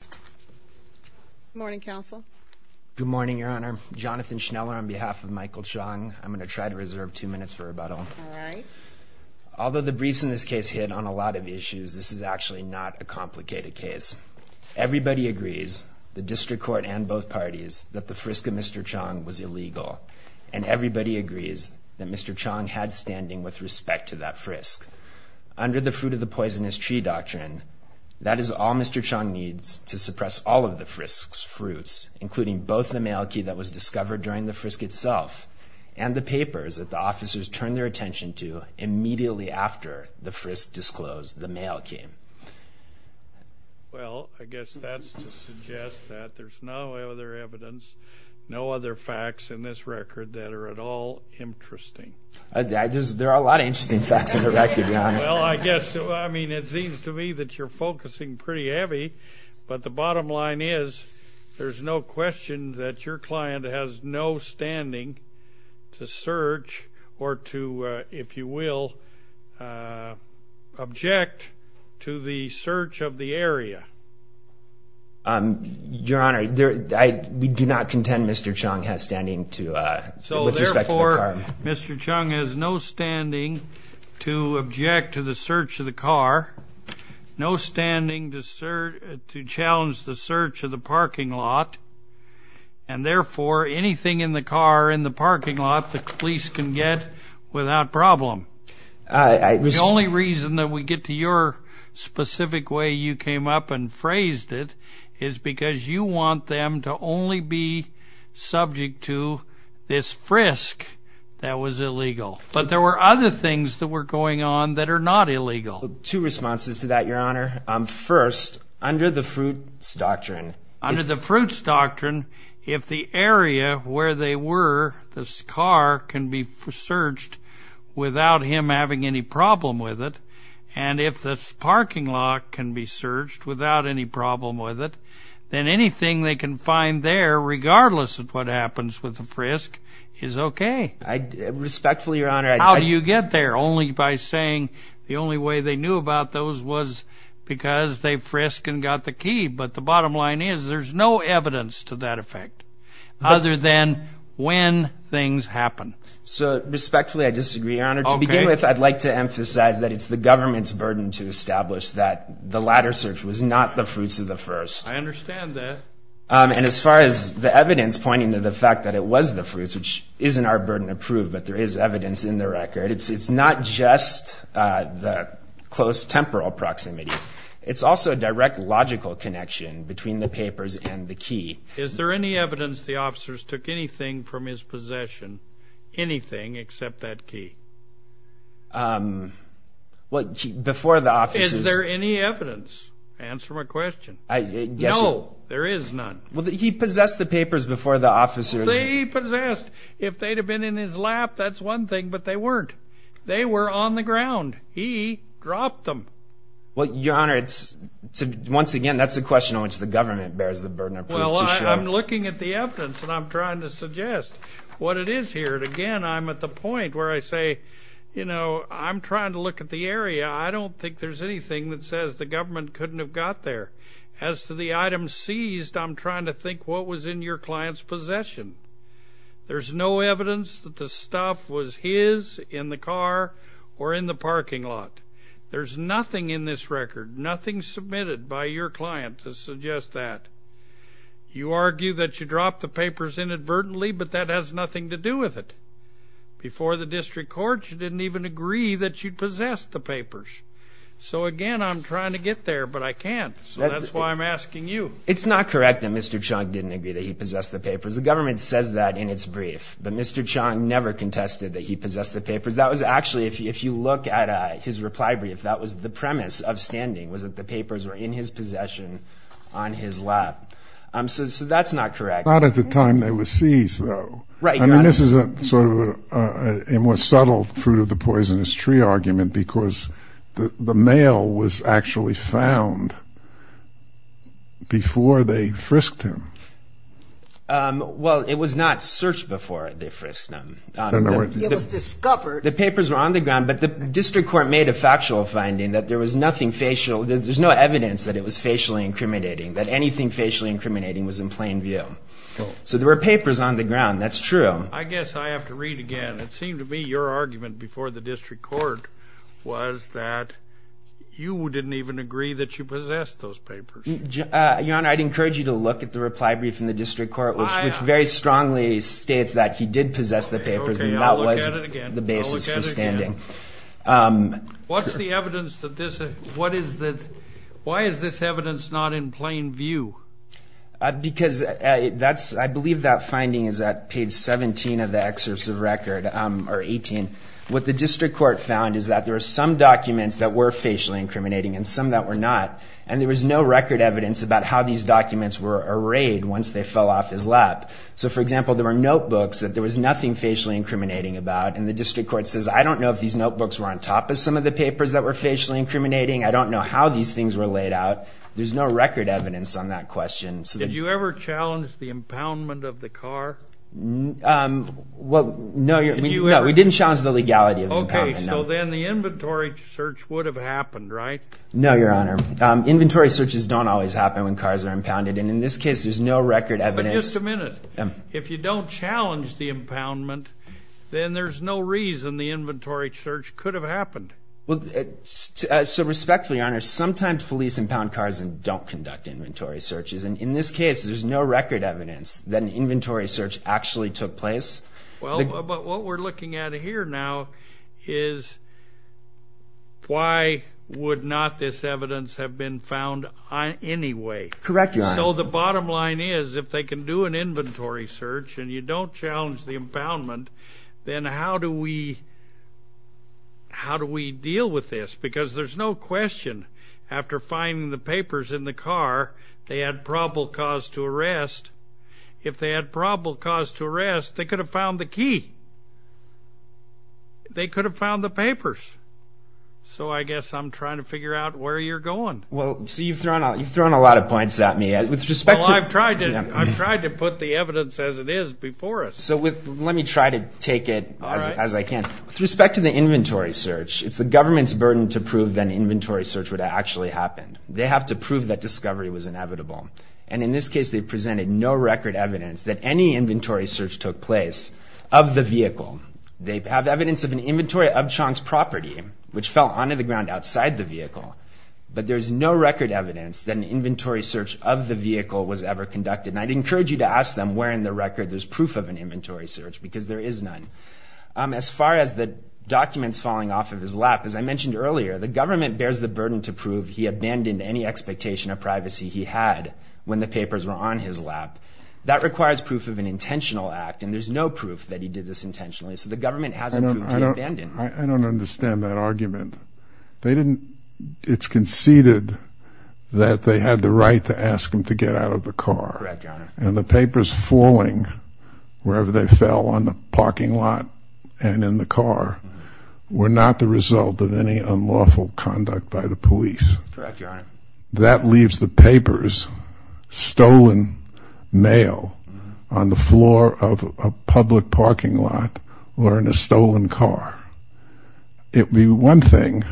Good morning, Counsel. Good morning, Your Honor. Jonathan Schneller on behalf of Michael Chong. I'm going to try to reserve two minutes for rebuttal. All right. Although the briefs in this case hit on a lot of issues, this is actually not a complicated case. Everybody agrees, the District Court and both parties, that the frisk of Mr. Chong was illegal. And everybody agrees that Mr. Chong had standing with respect to that frisk. Under the fruit-of-the-poisonous-tree doctrine, that is all Mr. Chong needs to suppress all of the frisk's fruits, including both the mail key that was discovered during the frisk itself, and the papers that the officers turned their attention to immediately after the frisk disclosed the mail key. Well, I guess that's to suggest that there's no other evidence, no other facts in this record that are at all interesting. There are a lot of interesting facts in the record, Your Honor. Well, I guess, I mean, it seems to me that you're focusing pretty heavy, but the bottom line is there's no question that your client has no standing to search or to, if you will, object to the search of the area. Your Honor, we do not contend Mr. Chong has standing with respect to the crime. Mr. Chong has no standing to object to the search of the car, no standing to challenge the search of the parking lot, and therefore anything in the car, in the parking lot, the police can get without problem. The only reason that we get to your specific way you came up and phrased it is because you want them to only be subject to this frisk that was illegal. But there were other things that were going on that are not illegal. Two responses to that, Your Honor. First, under the fruits doctrine. Under the fruits doctrine, if the area where they were, this car, can be searched without him having any problem with it, and if the parking lot can be searched without any problem with it, then anything they can find there, regardless of what happens with the frisk, is okay. Respectfully, Your Honor. How do you get there? Only by saying the only way they knew about those was because they frisked and got the key. But the bottom line is there's no evidence to that effect other than when things happen. So respectfully, I disagree, Your Honor. To begin with, I'd like to emphasize that it's the government's burden to establish that the latter search was not the fruits of the first. I understand that. And as far as the evidence pointing to the fact that it was the fruits, which isn't our burden to prove, but there is evidence in the record, it's not just the close temporal proximity. It's also a direct logical connection between the papers and the key. Is there any evidence the officers took anything from his possession, anything except that key? Before the officers... Is there any evidence? Answer my question. No, there is none. He possessed the papers before the officers... They possessed. If they'd have been in his lap, that's one thing, but they weren't. They were on the ground. He dropped them. Well, Your Honor, once again, that's a question on which the government bears the burden of proof to show. Well, I'm looking at the evidence, and I'm trying to suggest what it is here. And again, I'm at the point where I say, you know, I'm trying to look at the area. I don't think there's anything that says the government couldn't have got there. As to the items seized, I'm trying to think what was in your client's possession. There's no evidence that the stuff was his in the car or in the parking lot. There's nothing in this record, nothing submitted by your client to suggest that. You argue that you dropped the papers inadvertently, but that has nothing to do with it. Before the district court, you didn't even agree that you possessed the papers. So, again, I'm trying to get there, but I can't, so that's why I'm asking you. It's not correct that Mr. Chung didn't agree that he possessed the papers. The government says that in its brief, but Mr. Chung never contested that he possessed the papers. That was actually, if you look at his reply brief, that was the premise of standing, was that the papers were in his possession on his lap. So that's not correct. Not at the time they were seized, though. I mean, this is sort of a more subtle fruit of the poisonous tree argument because the mail was actually found before they frisked him. Well, it was not searched before they frisked him. The papers were on the ground, but the district court made a factual finding that there was nothing facial. There's no evidence that it was facially incriminating, that anything facially incriminating was in plain view. So there were papers on the ground. That's true. I guess I have to read again. It seemed to me your argument before the district court was that you didn't even agree that you possessed those papers. Your Honor, I'd encourage you to look at the reply brief in the district court, which very strongly states that he did possess the papers, and that was the basis for standing. Why is this evidence not in plain view? Because I believe that finding is at page 17 of the excerpt of record, or 18. What the district court found is that there were some documents that were facially incriminating and some that were not, and there was no record evidence about how these documents were arrayed once they fell off his lap. So, for example, there were notebooks that there was nothing facially incriminating about, and the district court says, I don't know if these notebooks were on top of some of the papers that were facially incriminating. I don't know how these things were laid out. There's no record evidence on that question. Did you ever challenge the impoundment of the car? No, we didn't challenge the legality of impoundment. Okay, so then the inventory search would have happened, right? No, Your Honor. Inventory searches don't always happen when cars are impounded, and in this case, there's no record evidence. But just a minute. If you don't challenge the impoundment, then there's no reason the inventory search could have happened. So respectfully, Your Honor, sometimes police impound cars and don't conduct inventory searches, and in this case, there's no record evidence that an inventory search actually took place. Well, but what we're looking at here now is why would not this evidence have been found anyway? Correct, Your Honor. So the bottom line is, if they can do an inventory search and you don't challenge the impoundment, then how do we deal with this? Because there's no question, after finding the papers in the car, they had probable cause to arrest. If they had probable cause to arrest, they could have found the key. They could have found the papers. So I guess I'm trying to figure out where you're going. Well, so you've thrown a lot of points at me. Well, I've tried to put the evidence as it is before us. So let me try to take it as I can. With respect to the inventory search, it's the government's burden to prove that an inventory search would have actually happened. They have to prove that discovery was inevitable. And in this case, they presented no record evidence that any inventory search took place of the vehicle. They have evidence of an inventory of Chong's property, which fell onto the ground outside the vehicle. But there's no record evidence that an inventory search of the vehicle was ever conducted. And I'd encourage you to ask them where in the record there's proof of an inventory search, because there is none. As far as the documents falling off of his lap, as I mentioned earlier, the government bears the burden to prove he abandoned any expectation of privacy he had when the papers were on his lap. That requires proof of an intentional act, and there's no proof that he did this intentionally. So the government has a proof to abandon. I don't understand that argument. It's conceded that they had the right to ask him to get out of the car. Correct, Your Honor. And the papers falling wherever they fell on the parking lot and in the car were not the result of any unlawful conduct by the police. That's correct, Your Honor. That leaves the papers, stolen mail, on the floor of a public parking lot or in a stolen car. It would be one thing,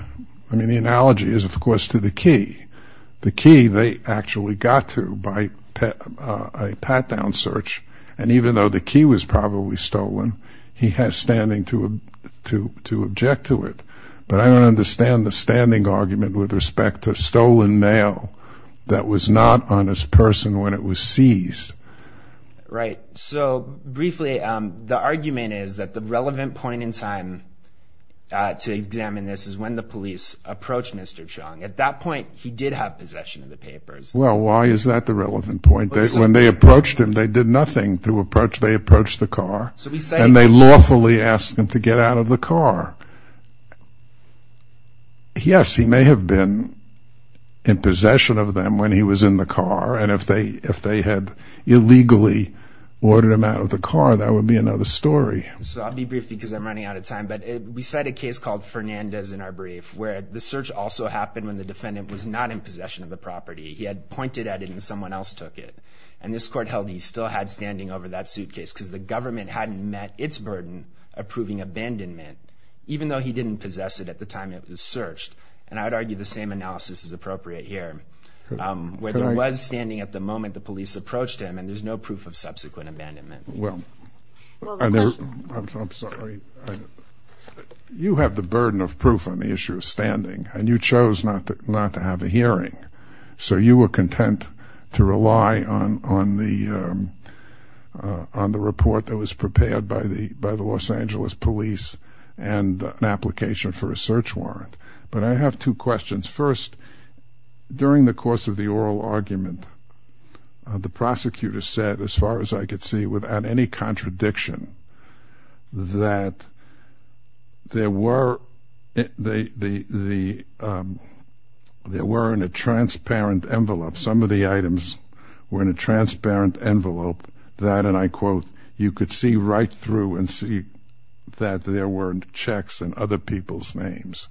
I mean, the analogy is, of course, to the key. The key they actually got to by a pat-down search, and even though the key was probably stolen, he has standing to object to it. But I don't understand the standing argument with respect to stolen mail that was not on his person when it was seized. Right. So briefly, the argument is that the relevant point in time to examine this is when the police approached Mr. Chung. At that point, he did have possession of the papers. Well, why is that the relevant point? When they approached him, they did nothing. They approached the car, and they lawfully asked him to get out of the car. Yes, he may have been in possession of them when he was in the car, and if they had illegally ordered him out of the car, that would be another story. I'll be brief because I'm running out of time. But we cite a case called Fernandez in our brief where the search also happened when the defendant was not in possession of the property. He had pointed at it, and someone else took it. And this court held he still had standing over that suitcase because the government hadn't met its burden approving abandonment, even though he didn't possess it at the time it was searched. And I would argue the same analysis is appropriate here, where there was standing at the moment the police approached him, and there's no proof of subsequent abandonment. Well, I'm sorry. You have the burden of proof on the issue of standing, and you chose not to have a hearing. So you were content to rely on the report that was prepared by the Los Angeles police and an application for a search warrant. But I have two questions. First, during the course of the oral argument, the prosecutor said, as far as I could see without any contradiction, that there were in a transparent envelope. Some of the items were in a transparent envelope that, and I quote, you could see right through and see that there weren't checks in other people's names.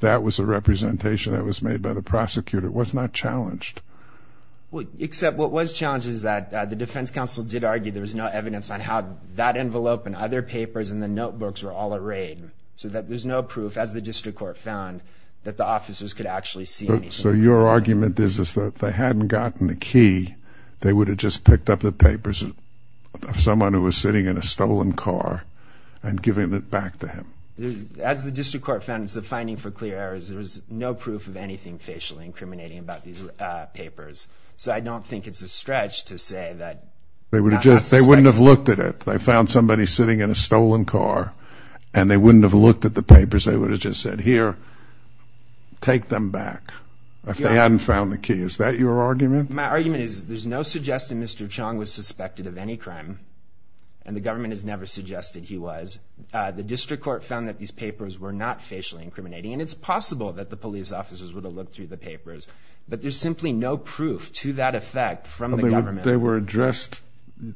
That was a representation that was made by the prosecutor. It was not challenged. Except what was challenged is that the defense counsel did argue there was no evidence on how that envelope and other papers and the notebooks were all at raid, so that there's no proof, as the district court found, that the officers could actually see anything. So your argument is that if they hadn't gotten the key, they would have just picked up the papers of someone who was sitting in a stolen car and given it back to him. As the district court found, it's a finding for clear errors. There was no proof of anything facially incriminating about these papers. So I don't think it's a stretch to say that. They wouldn't have looked at it. They found somebody sitting in a stolen car, and they wouldn't have looked at the papers. They would have just said, here, take them back. If they hadn't found the key. Is that your argument? My argument is there's no suggestion Mr. Chong was suspected of any crime, and the government has never suggested he was. The district court found that these papers were not facially incriminating, and it's possible that the police officers would have looked through the papers. But there's simply no proof to that effect from the government. They were addressed,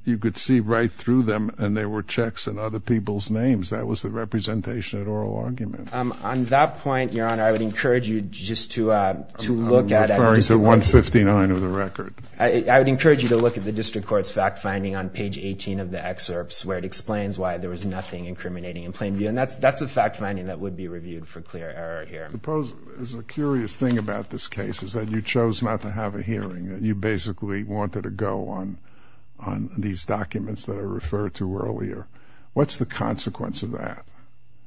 you could see right through them, and there were checks in other people's names. That was the representation at oral argument. On that point, Your Honor, I would encourage you just to look at it. I'm referring to 159 of the record. I would encourage you to look at the district court's fact finding on page 18 of the excerpts, where it explains why there was nothing incriminating in plain view. And that's a fact finding that would be reviewed for clear error here. Suppose there's a curious thing about this case, is that you chose not to have a hearing. You basically wanted a go on these documents that are referred to earlier. What's the consequence of that?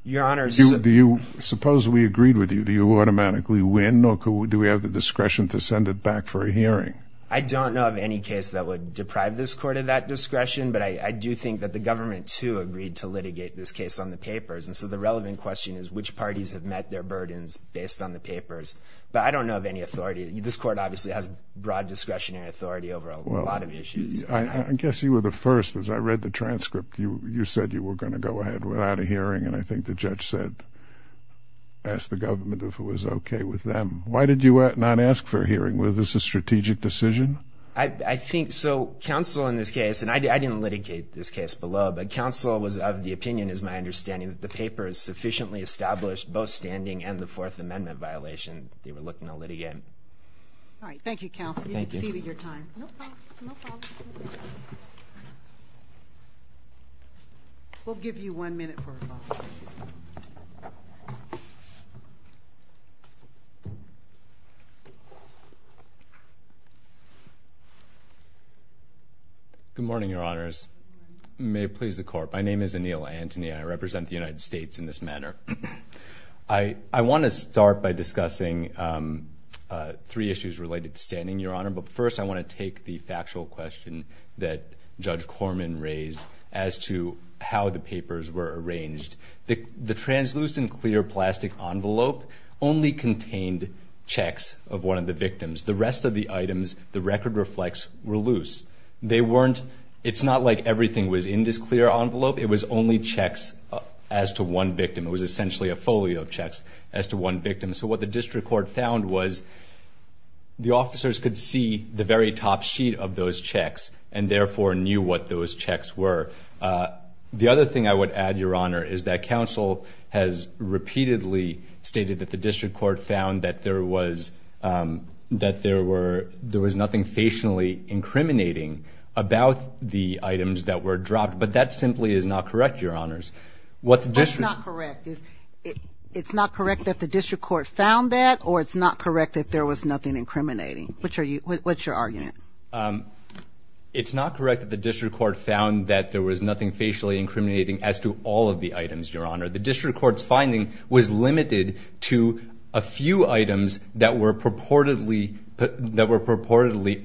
Your Honor, suppose we agreed with you. Do you automatically win, or do we have the discretion to send it back for a hearing? I don't know of any case that would deprive this court of that discretion, but I do think that the government, too, agreed to litigate this case on the papers. And so the relevant question is which parties have met their burdens based on the papers. But I don't know of any authority. This court obviously has broad discretionary authority over a lot of issues. I guess you were the first. As I read the transcript, you said you were going to go ahead without a hearing, and I think the judge asked the government if it was okay with them. Why did you not ask for a hearing? Was this a strategic decision? I think so. Counsel, in this case, and I didn't litigate this case below, but counsel was of the opinion, is my understanding, that the papers sufficiently established both standing and the Fourth Amendment violation. They were looking to litigate. All right. Thank you, counsel. Thank you. You exceeded your time. No problem. No problem. We'll give you one minute for rebuttal. Good morning, Your Honors. May it please the Court. My name is Anil Antony. I represent the United States in this manner. I want to start by discussing three issues related to standing, Your Honor. But first, I want to take the factual question that Judge Corman raised as to how the papers were arranged. The translucent clear plastic envelope only contained checks of one of the victims. The rest of the items, the record reflects, were loose. They weren't – it's not like everything was in this clear envelope. It was only checks as to one victim. It was essentially a folio of checks as to one victim. So what the district court found was the officers could see the very top sheet of those checks and therefore knew what those checks were. The other thing I would add, Your Honor, is that counsel has repeatedly stated that the district court found that there was nothing facially incriminating about the items that were dropped. But that simply is not correct, Your Honors. What's not correct is it's not correct that the district court found that or it's not correct that there was nothing incriminating? What's your argument? It's not correct that the district court found that there was nothing facially incriminating as to all of the items, Your Honor. The district court's finding was limited to a few items that were purportedly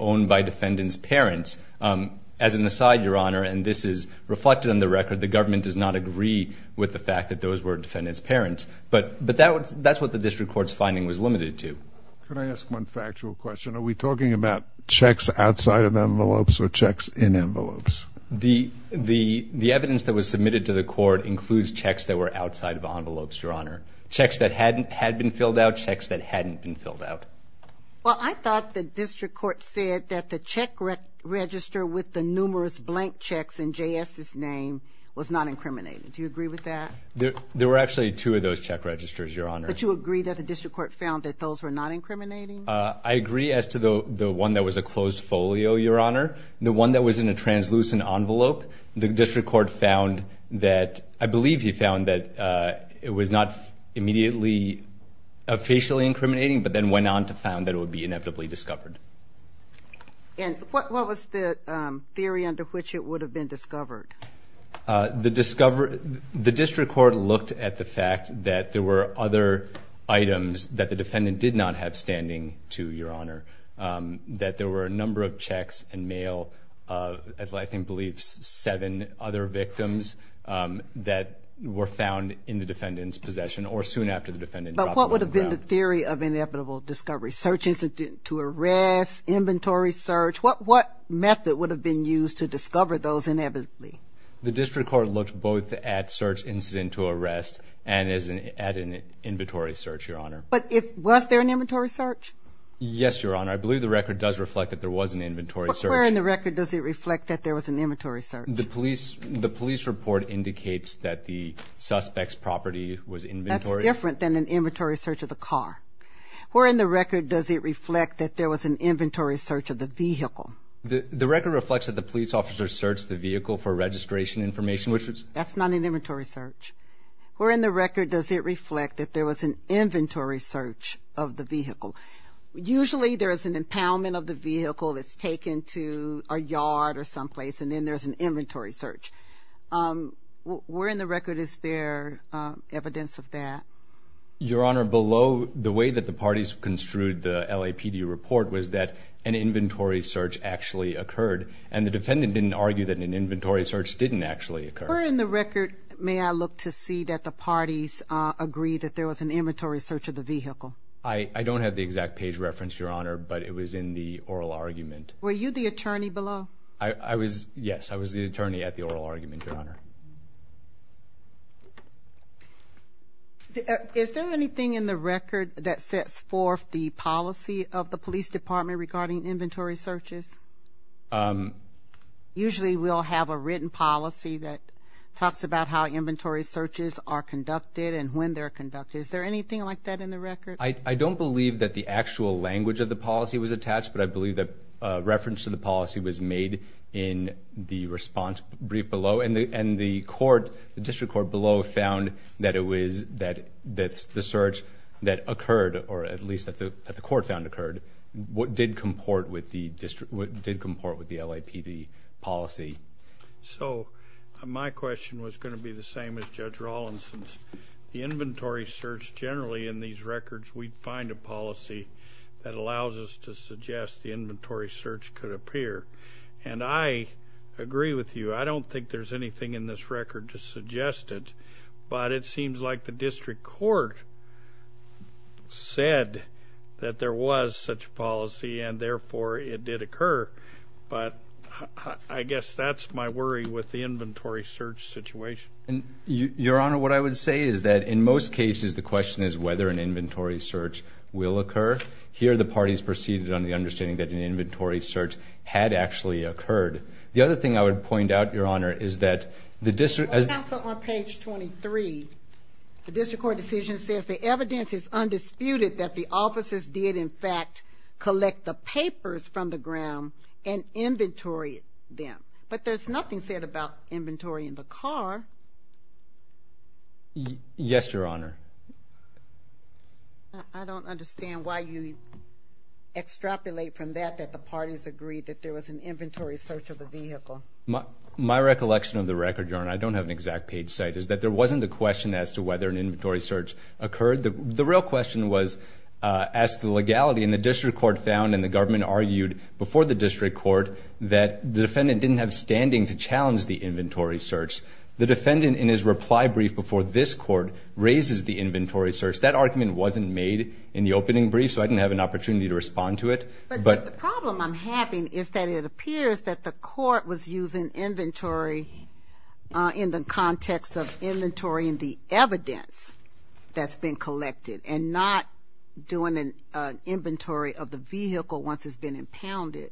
owned by defendants' parents. As an aside, Your Honor, and this is reflected in the record, but that's what the district court's finding was limited to. Can I ask one factual question? Are we talking about checks outside of envelopes or checks in envelopes? The evidence that was submitted to the court includes checks that were outside of envelopes, Your Honor, checks that had been filled out, checks that hadn't been filled out. Well, I thought the district court said that the check register with the numerous blank checks in J.S.'s name was not incriminating. Do you agree with that? There were actually two of those check registers, Your Honor. But you agree that the district court found that those were not incriminating? I agree as to the one that was a closed folio, Your Honor. The one that was in a translucent envelope, the district court found that, I believe he found that it was not immediately facially incriminating but then went on to found that it would be inevitably discovered. And what was the theory under which it would have been discovered? The district court looked at the fact that there were other items that the defendant did not have standing to, Your Honor, that there were a number of checks and mail of, I think, I believe seven other victims that were found in the defendant's possession or soon after the defendant dropped them on the ground. But what would have been the theory of inevitable discovery? Searches to arrest, inventory search, what method would have been used to discover those inevitably? The district court looked both at search incident to arrest and at an inventory search, Your Honor. But was there an inventory search? Yes, Your Honor. I believe the record does reflect that there was an inventory search. But where in the record does it reflect that there was an inventory search? The police report indicates that the suspect's property was inventory. That's different than an inventory search of the car. Where in the record does it reflect that there was an inventory search of the vehicle? The record reflects that the police officer searched the vehicle for registration information. That's not an inventory search. Where in the record does it reflect that there was an inventory search of the vehicle? Usually there is an impoundment of the vehicle that's taken to a yard or someplace, and then there's an inventory search. Where in the record is there evidence of that? Your Honor, below the way that the parties construed the LAPD report was that an inventory search actually occurred, and the defendant didn't argue that an inventory search didn't actually occur. Where in the record may I look to see that the parties agree that there was an inventory search of the vehicle? I don't have the exact page reference, Your Honor, but it was in the oral argument. Were you the attorney below? Yes, I was the attorney at the oral argument, Your Honor. Is there anything in the record that sets forth the policy of the police department regarding inventory searches? Usually we'll have a written policy that talks about how inventory searches are conducted and when they're conducted. Is there anything like that in the record? I don't believe that the actual language of the policy was attached, but I believe that reference to the policy was made in the response brief below, and the district court below found that the search that occurred, or at least that the court found occurred, did comport with the LAPD policy. My question was going to be the same as Judge Rawlinson's. The inventory search generally in these records, we find a policy that allows us to suggest the inventory search could appear. I agree with you. I don't think there's anything in this record to suggest it, but it seems like the district court said that there was such policy and therefore it did occur, but I guess that's my worry with the inventory search situation. Your Honor, what I would say is that in most cases, the question is whether an inventory search will occur. Here the parties proceeded on the understanding that an inventory search had actually occurred. The other thing I would point out, Your Honor, is that the district... On page 23, the district court decision says, the evidence is undisputed that the officers did, in fact, collect the papers from the ground and inventory them, but there's nothing said about inventory in the car. Yes, Your Honor. I don't understand why you extrapolate from that that the parties agreed that there was an inventory search of the vehicle. My recollection of the record, Your Honor, I don't have an exact page site, is that there wasn't a question as to whether an inventory search occurred. The real question was as to the legality, and the district court found and the government argued before the district court that the defendant didn't have standing to challenge the inventory search. The defendant, in his reply brief before this court, raises the inventory search. That argument wasn't made in the opening brief, so I didn't have an opportunity to respond to it. But the problem I'm having is that it appears that the court was using inventory in the context of inventorying the evidence that's been collected and not doing an inventory of the vehicle once it's been impounded.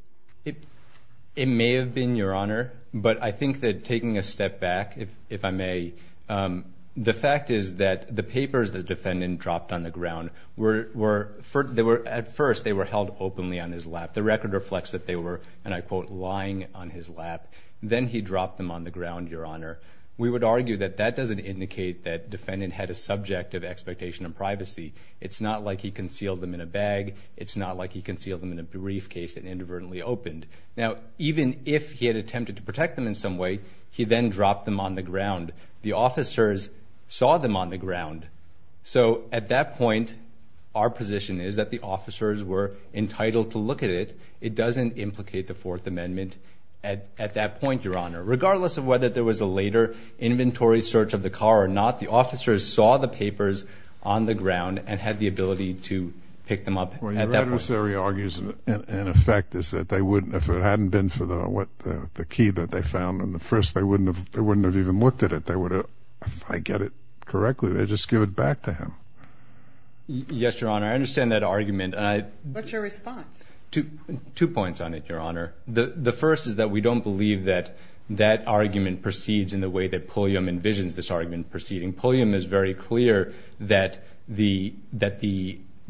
It may have been, Your Honor, but I think that taking a step back, if I may, the fact is that the papers the defendant dropped on the ground, at first they were held openly on his lap. The record reflects that they were, and I quote, lying on his lap. Then he dropped them on the ground, Your Honor. We would argue that that doesn't indicate that defendant had a subjective expectation of privacy. It's not like he concealed them in a bag. It's not like he concealed them in a briefcase that inadvertently opened. Now, even if he had attempted to protect them in some way, he then dropped them on the ground. The officers saw them on the ground. So at that point, our position is that the officers were entitled to look at it. It doesn't implicate the Fourth Amendment at that point, Your Honor. Regardless of whether there was a later inventory search of the car or not, the officers saw the papers on the ground and had the ability to pick them up at that point. Well, your adversary argues, in effect, is that they wouldn't, if it hadn't been for the key that they found on the first, they wouldn't have even looked at it. If I get it correctly, they'd just give it back to him. Yes, Your Honor. I understand that argument. What's your response? Two points on it, Your Honor. The first is that we don't believe that that argument proceeds in the way that Pulliam envisions this argument proceeding. Pulliam is very clear that the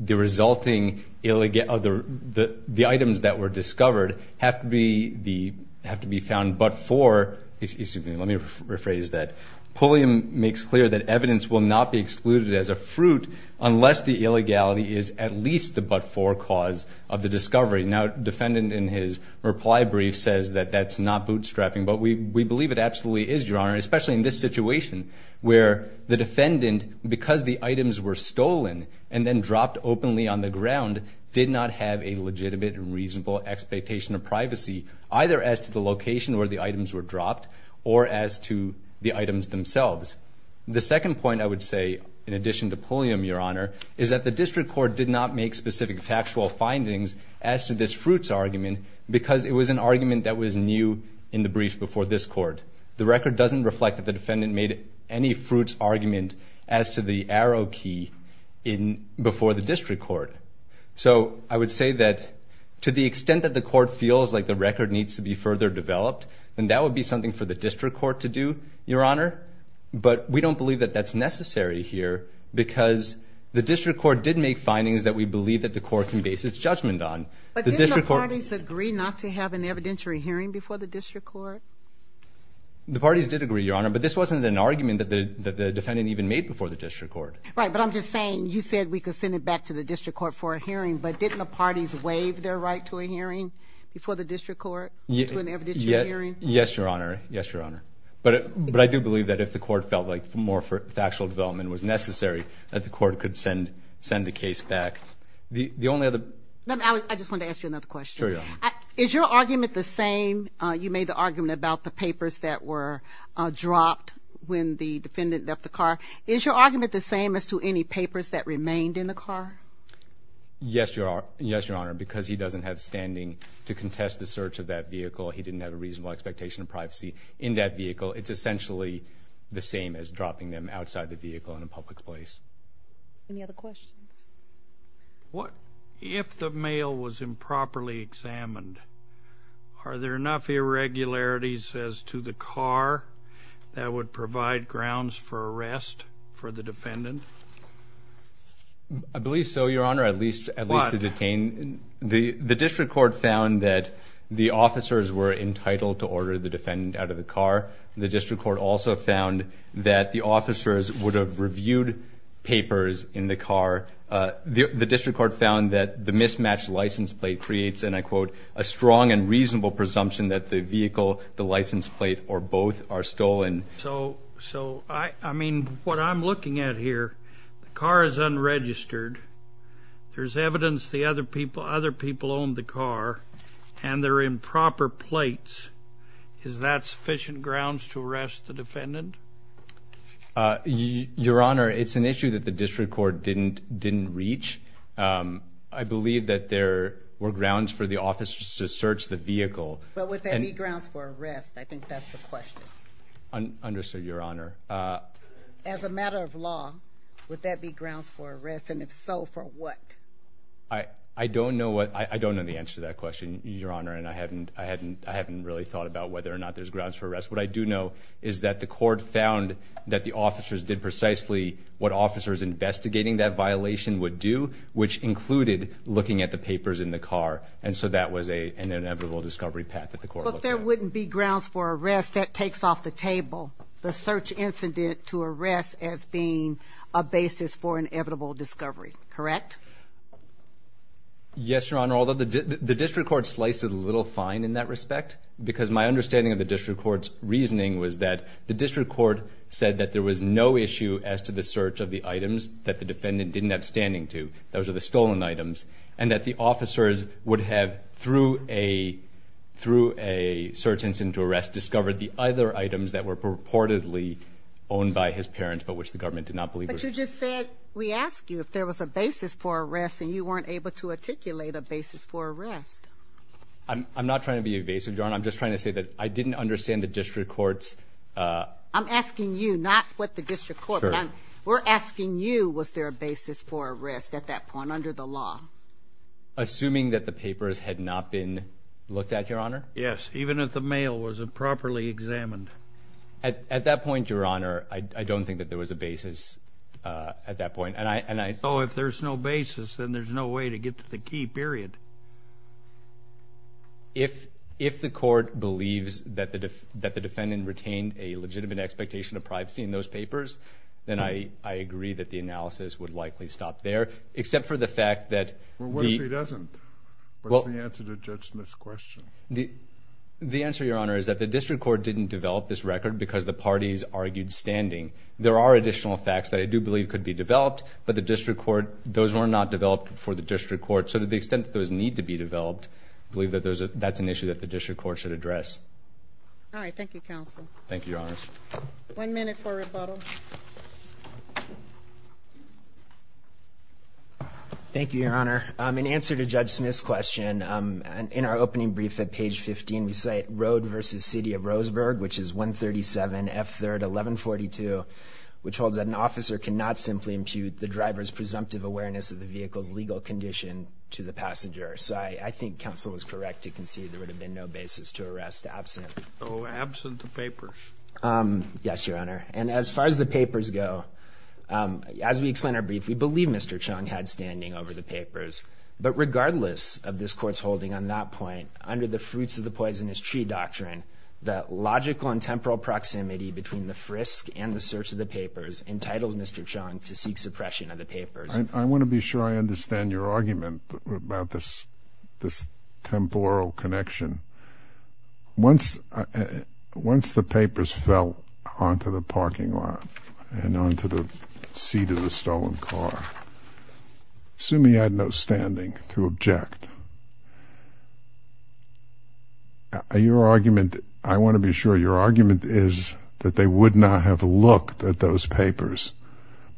resulting, the items that were discovered have to be found but for, excuse me, let me rephrase that, Pulliam makes clear that evidence will not be excluded as a fruit unless the illegality is at least the but-for cause of the discovery. Now, defendant in his reply brief says that that's not bootstrapping, but we believe it absolutely is, Your Honor, especially in this situation where the defendant, because the items were stolen and then dropped openly on the ground, did not have a legitimate and reasonable expectation of privacy, either as to the location where the items were dropped or as to the items themselves. The second point I would say, in addition to Pulliam, Your Honor, is that the district court did not make specific factual findings as to this fruits argument because it was an argument that was new in the brief before this court. The record doesn't reflect that the defendant made any fruits argument as to the arrow key before the district court. So I would say that to the extent that the court feels like the record needs to be further developed, then that would be something for the district court to do, Your Honor, but we don't believe that that's necessary here because the district court did make findings that we believe that the court can base its judgment on. But didn't the parties agree not to have an evidentiary hearing before the district court? The parties did agree, Your Honor, but this wasn't an argument that the defendant even made before the district court. Right, but I'm just saying you said we could send it back to the district court for a hearing, but didn't the parties waive their right to a hearing before the district court to an evidentiary hearing? Yes, Your Honor. Yes, Your Honor. But I do believe that if the court felt like more factual development was necessary, that the court could send the case back. The only other... I just wanted to ask you another question. Sure, Your Honor. Is your argument the same? You made the argument about the papers that were dropped when the defendant left the car. Is your argument the same as to any papers that remained in the car? Yes, Your Honor, because he doesn't have standing to contest the search of that vehicle. He didn't have a reasonable expectation of privacy in that vehicle. It's essentially the same as dropping them outside the vehicle in a public place. Any other questions? If the mail was improperly examined, are there enough irregularities as to the car that would provide grounds for arrest for the defendant? I believe so, Your Honor, at least to detain. The district court found that the officers were entitled to order the defendant out of the car. The district court also found that the officers would have reviewed papers in the car. The district court found that the mismatched license plate creates, and I quote, a strong and reasonable presumption that the vehicle, the license plate, or both are stolen. So, I mean, what I'm looking at here, the car is unregistered. There's evidence the other people owned the car, and they're in proper plates. Is that sufficient grounds to arrest the defendant? Your Honor, it's an issue that the district court didn't reach. I believe that there were grounds for the officers to search the vehicle. But would that be grounds for arrest? I think that's the question. Understood, Your Honor. As a matter of law, would that be grounds for arrest, and if so, for what? I don't know the answer to that question, Your Honor, and I haven't really thought about whether or not there's grounds for arrest. What I do know is that the court found that the officers did precisely what officers investigating that violation would do, which included looking at the papers in the car, and so that was an inevitable discovery path that the court looked at. But there wouldn't be grounds for arrest. That takes off the table, the search incident to arrest as being a basis for inevitable discovery, correct? Yes, Your Honor, although the district court sliced it a little fine in that respect because my understanding of the district court's reasoning was that the district court said that there was no issue as to the search of the items that the defendant didn't have standing to. Those are the stolen items, and that the officers would have, through a search incident to arrest, discovered the other items that were purportedly owned by his parents but which the government did not believe were his. But you just said we asked you if there was a basis for arrest, and you weren't able to articulate a basis for arrest. I'm not trying to be evasive, Your Honor. I'm just trying to say that I didn't understand the district court's... I'm asking you, not what the district court... Sure. We're asking you was there a basis for arrest at that point under the law. Assuming that the papers had not been looked at, Your Honor? Yes, even if the mail was properly examined. At that point, Your Honor, I don't think that there was a basis at that point, and I... Oh, if there's no basis, then there's no way to get to the key, period. If the court believes that the defendant retained a legitimate expectation of privacy in those papers, then I agree that the analysis would likely stop there, except for the fact that... Well, what if he doesn't? What is the answer to Judge Smith's question? The answer, Your Honor, is that the district court didn't develop this record because the parties argued standing. There are additional facts that I do believe could be developed, but the district court... Those were not developed for the district court, so to the extent that those need to be developed, I believe that that's an issue that the district court should address. All right. Thank you, counsel. Thank you, Your Honor. One minute for rebuttal. Thank you, Your Honor. In answer to Judge Smith's question, in our opening brief at page 15, we cite Road v. City of Roseburg, which is 137F3-1142, which holds that an officer cannot simply impute the driver's presumptive awareness of the vehicle's legal condition to the passenger. So I think counsel is correct to concede there would have been no basis to arrest absent. Oh, absent the papers. Yes, Your Honor. And as far as the papers go, as we explain our brief, we believe Mr. Chung had standing over the papers. But regardless of this court's holding on that point, under the fruits of the poisonous tree doctrine, the logical and temporal proximity between the frisk and the search of the papers entitled Mr. Chung to seek suppression of the papers. I want to be sure I understand your argument about this temporal connection. Once the papers fell onto the parking lot and onto the seat of the stolen car, assuming he had no standing to object, your argument, I want to be sure your argument is that they would not have looked at those papers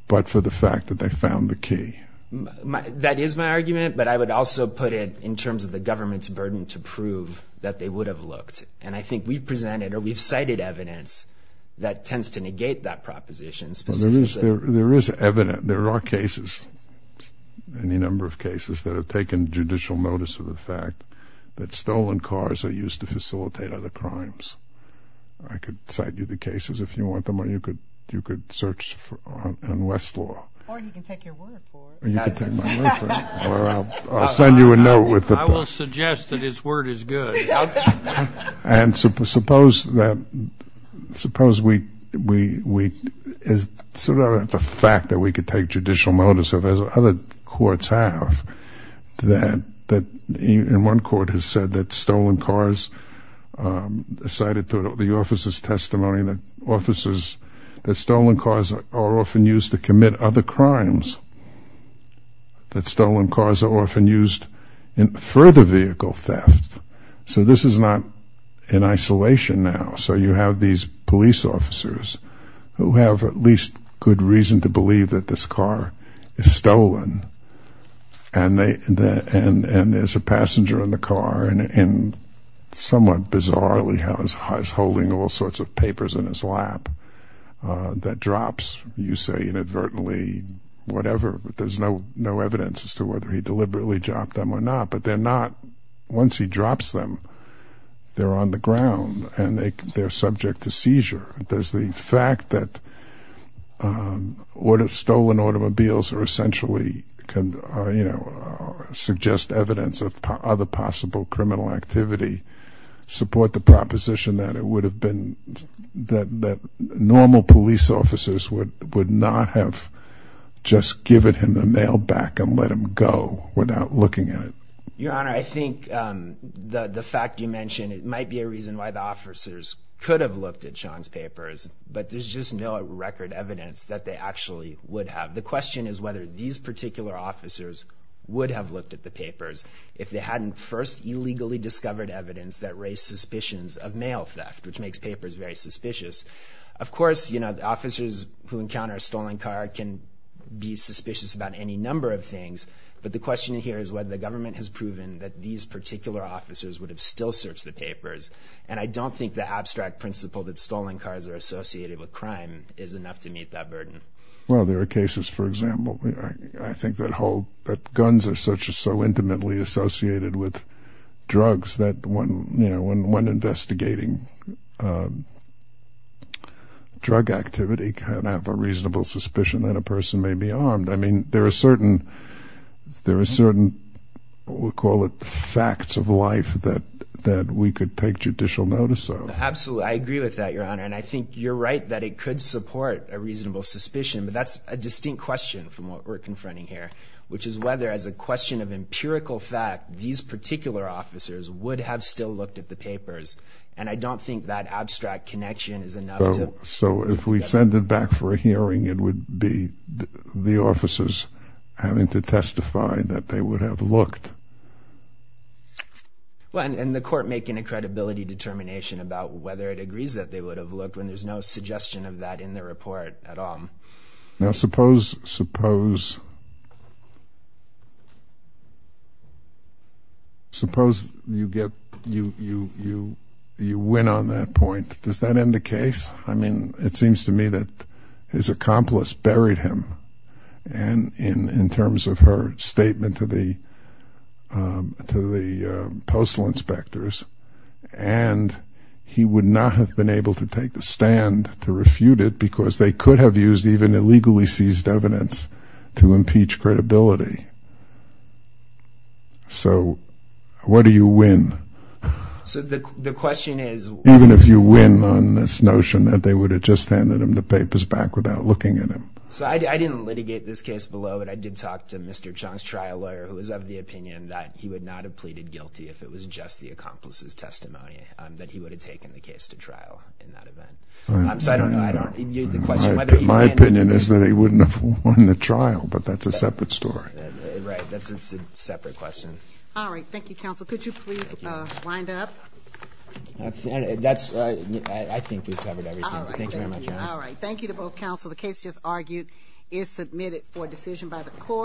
but for the fact that they found the key. That is my argument, but I would also put it in terms of the government's burden to prove that they would have looked. And I think we've presented or we've cited evidence that tends to negate that proposition specifically. There is evidence. There are cases, any number of cases that have taken judicial notice of the fact that stolen cars are used to facilitate other crimes. I could cite you the cases if you want them or you could search on Westlaw. Or you can take your word for it. Or you can take my word for it. Or I'll send you a note with the papers. I will suggest that his word is good. And suppose the fact that we could take judicial notice of, as other courts have, that one court has said that stolen cars cited through the officer's testimony, that stolen cars are often used to commit other crimes, that stolen cars are often used in further vehicle theft. So this is not in isolation now. So you have these police officers who have at least good reason to believe that this car is stolen. And there's a passenger in the car and somewhat bizarrely is holding all sorts of papers in his lap that drops. You say inadvertently whatever, but there's no evidence as to whether he deliberately dropped them or not. But they're not. Once he drops them, they're on the ground and they're subject to seizure. Does the fact that stolen automobiles are essentially, you know, suggest evidence of other possible criminal activity support the proposition that it would have been, that normal police officers would not have just given him the mail back and let him go without looking at it? Your Honor, I think the fact you mentioned it might be a reason why the officers could have looked at Sean's papers, but there's just no record evidence that they actually would have. The question is whether these particular officers would have looked at the papers if they hadn't first illegally discovered evidence that raised suspicions of mail theft, which makes papers very suspicious. Of course, you know, the officers who encounter a stolen car can be suspicious about any number of things, but the question here is whether the government has proven that these particular officers would have still searched the papers. And I don't think the abstract principle that stolen cars are associated with crime is enough to meet that burden. Well, there are cases, for example, I think that guns are so intimately associated with drugs that one investigating drug activity can have a reasonable suspicion that a person may be armed. I mean, there are certain, we'll call it, facts of life that we could take judicial notice of. Absolutely. I agree with that, Your Honor. And I think you're right that it could support a reasonable suspicion, but that's a distinct question from what we're confronting here, which is whether, as a question of empirical fact, these particular officers would have still looked at the papers. And I don't think that abstract connection is enough to... So if we send it back for a hearing, it would be the officers having to testify that they would have looked. Well, and the court making a credibility determination about whether it agrees that they would have looked, when there's no suggestion of that in the report at all. Now, suppose you win on that point. Does that end the case? I mean, it seems to me that his accomplice buried him in terms of her statement to the postal inspectors, and he would not have been able to take the stand to refute it because they could have used even illegally seized evidence to impeach credibility. So what do you win? So the question is... Even if you win on this notion that they would have just handed him the papers back without looking at him. So I didn't litigate this case below, but I did talk to Mr. Chung's trial lawyer, who was of the opinion that he would not have pleaded guilty if it was just the accomplice's testimony, that he would have taken the case to trial in that event. So I don't know. I don't... My opinion is that he wouldn't have won the trial, but that's a separate story. Right. That's a separate question. All right. Thank you, counsel. Could you please wind up? That's... I think we've covered everything. Thank you very much, Your Honor. All right. Thank you to both counsel. The case just argued is submitted for decision by the court.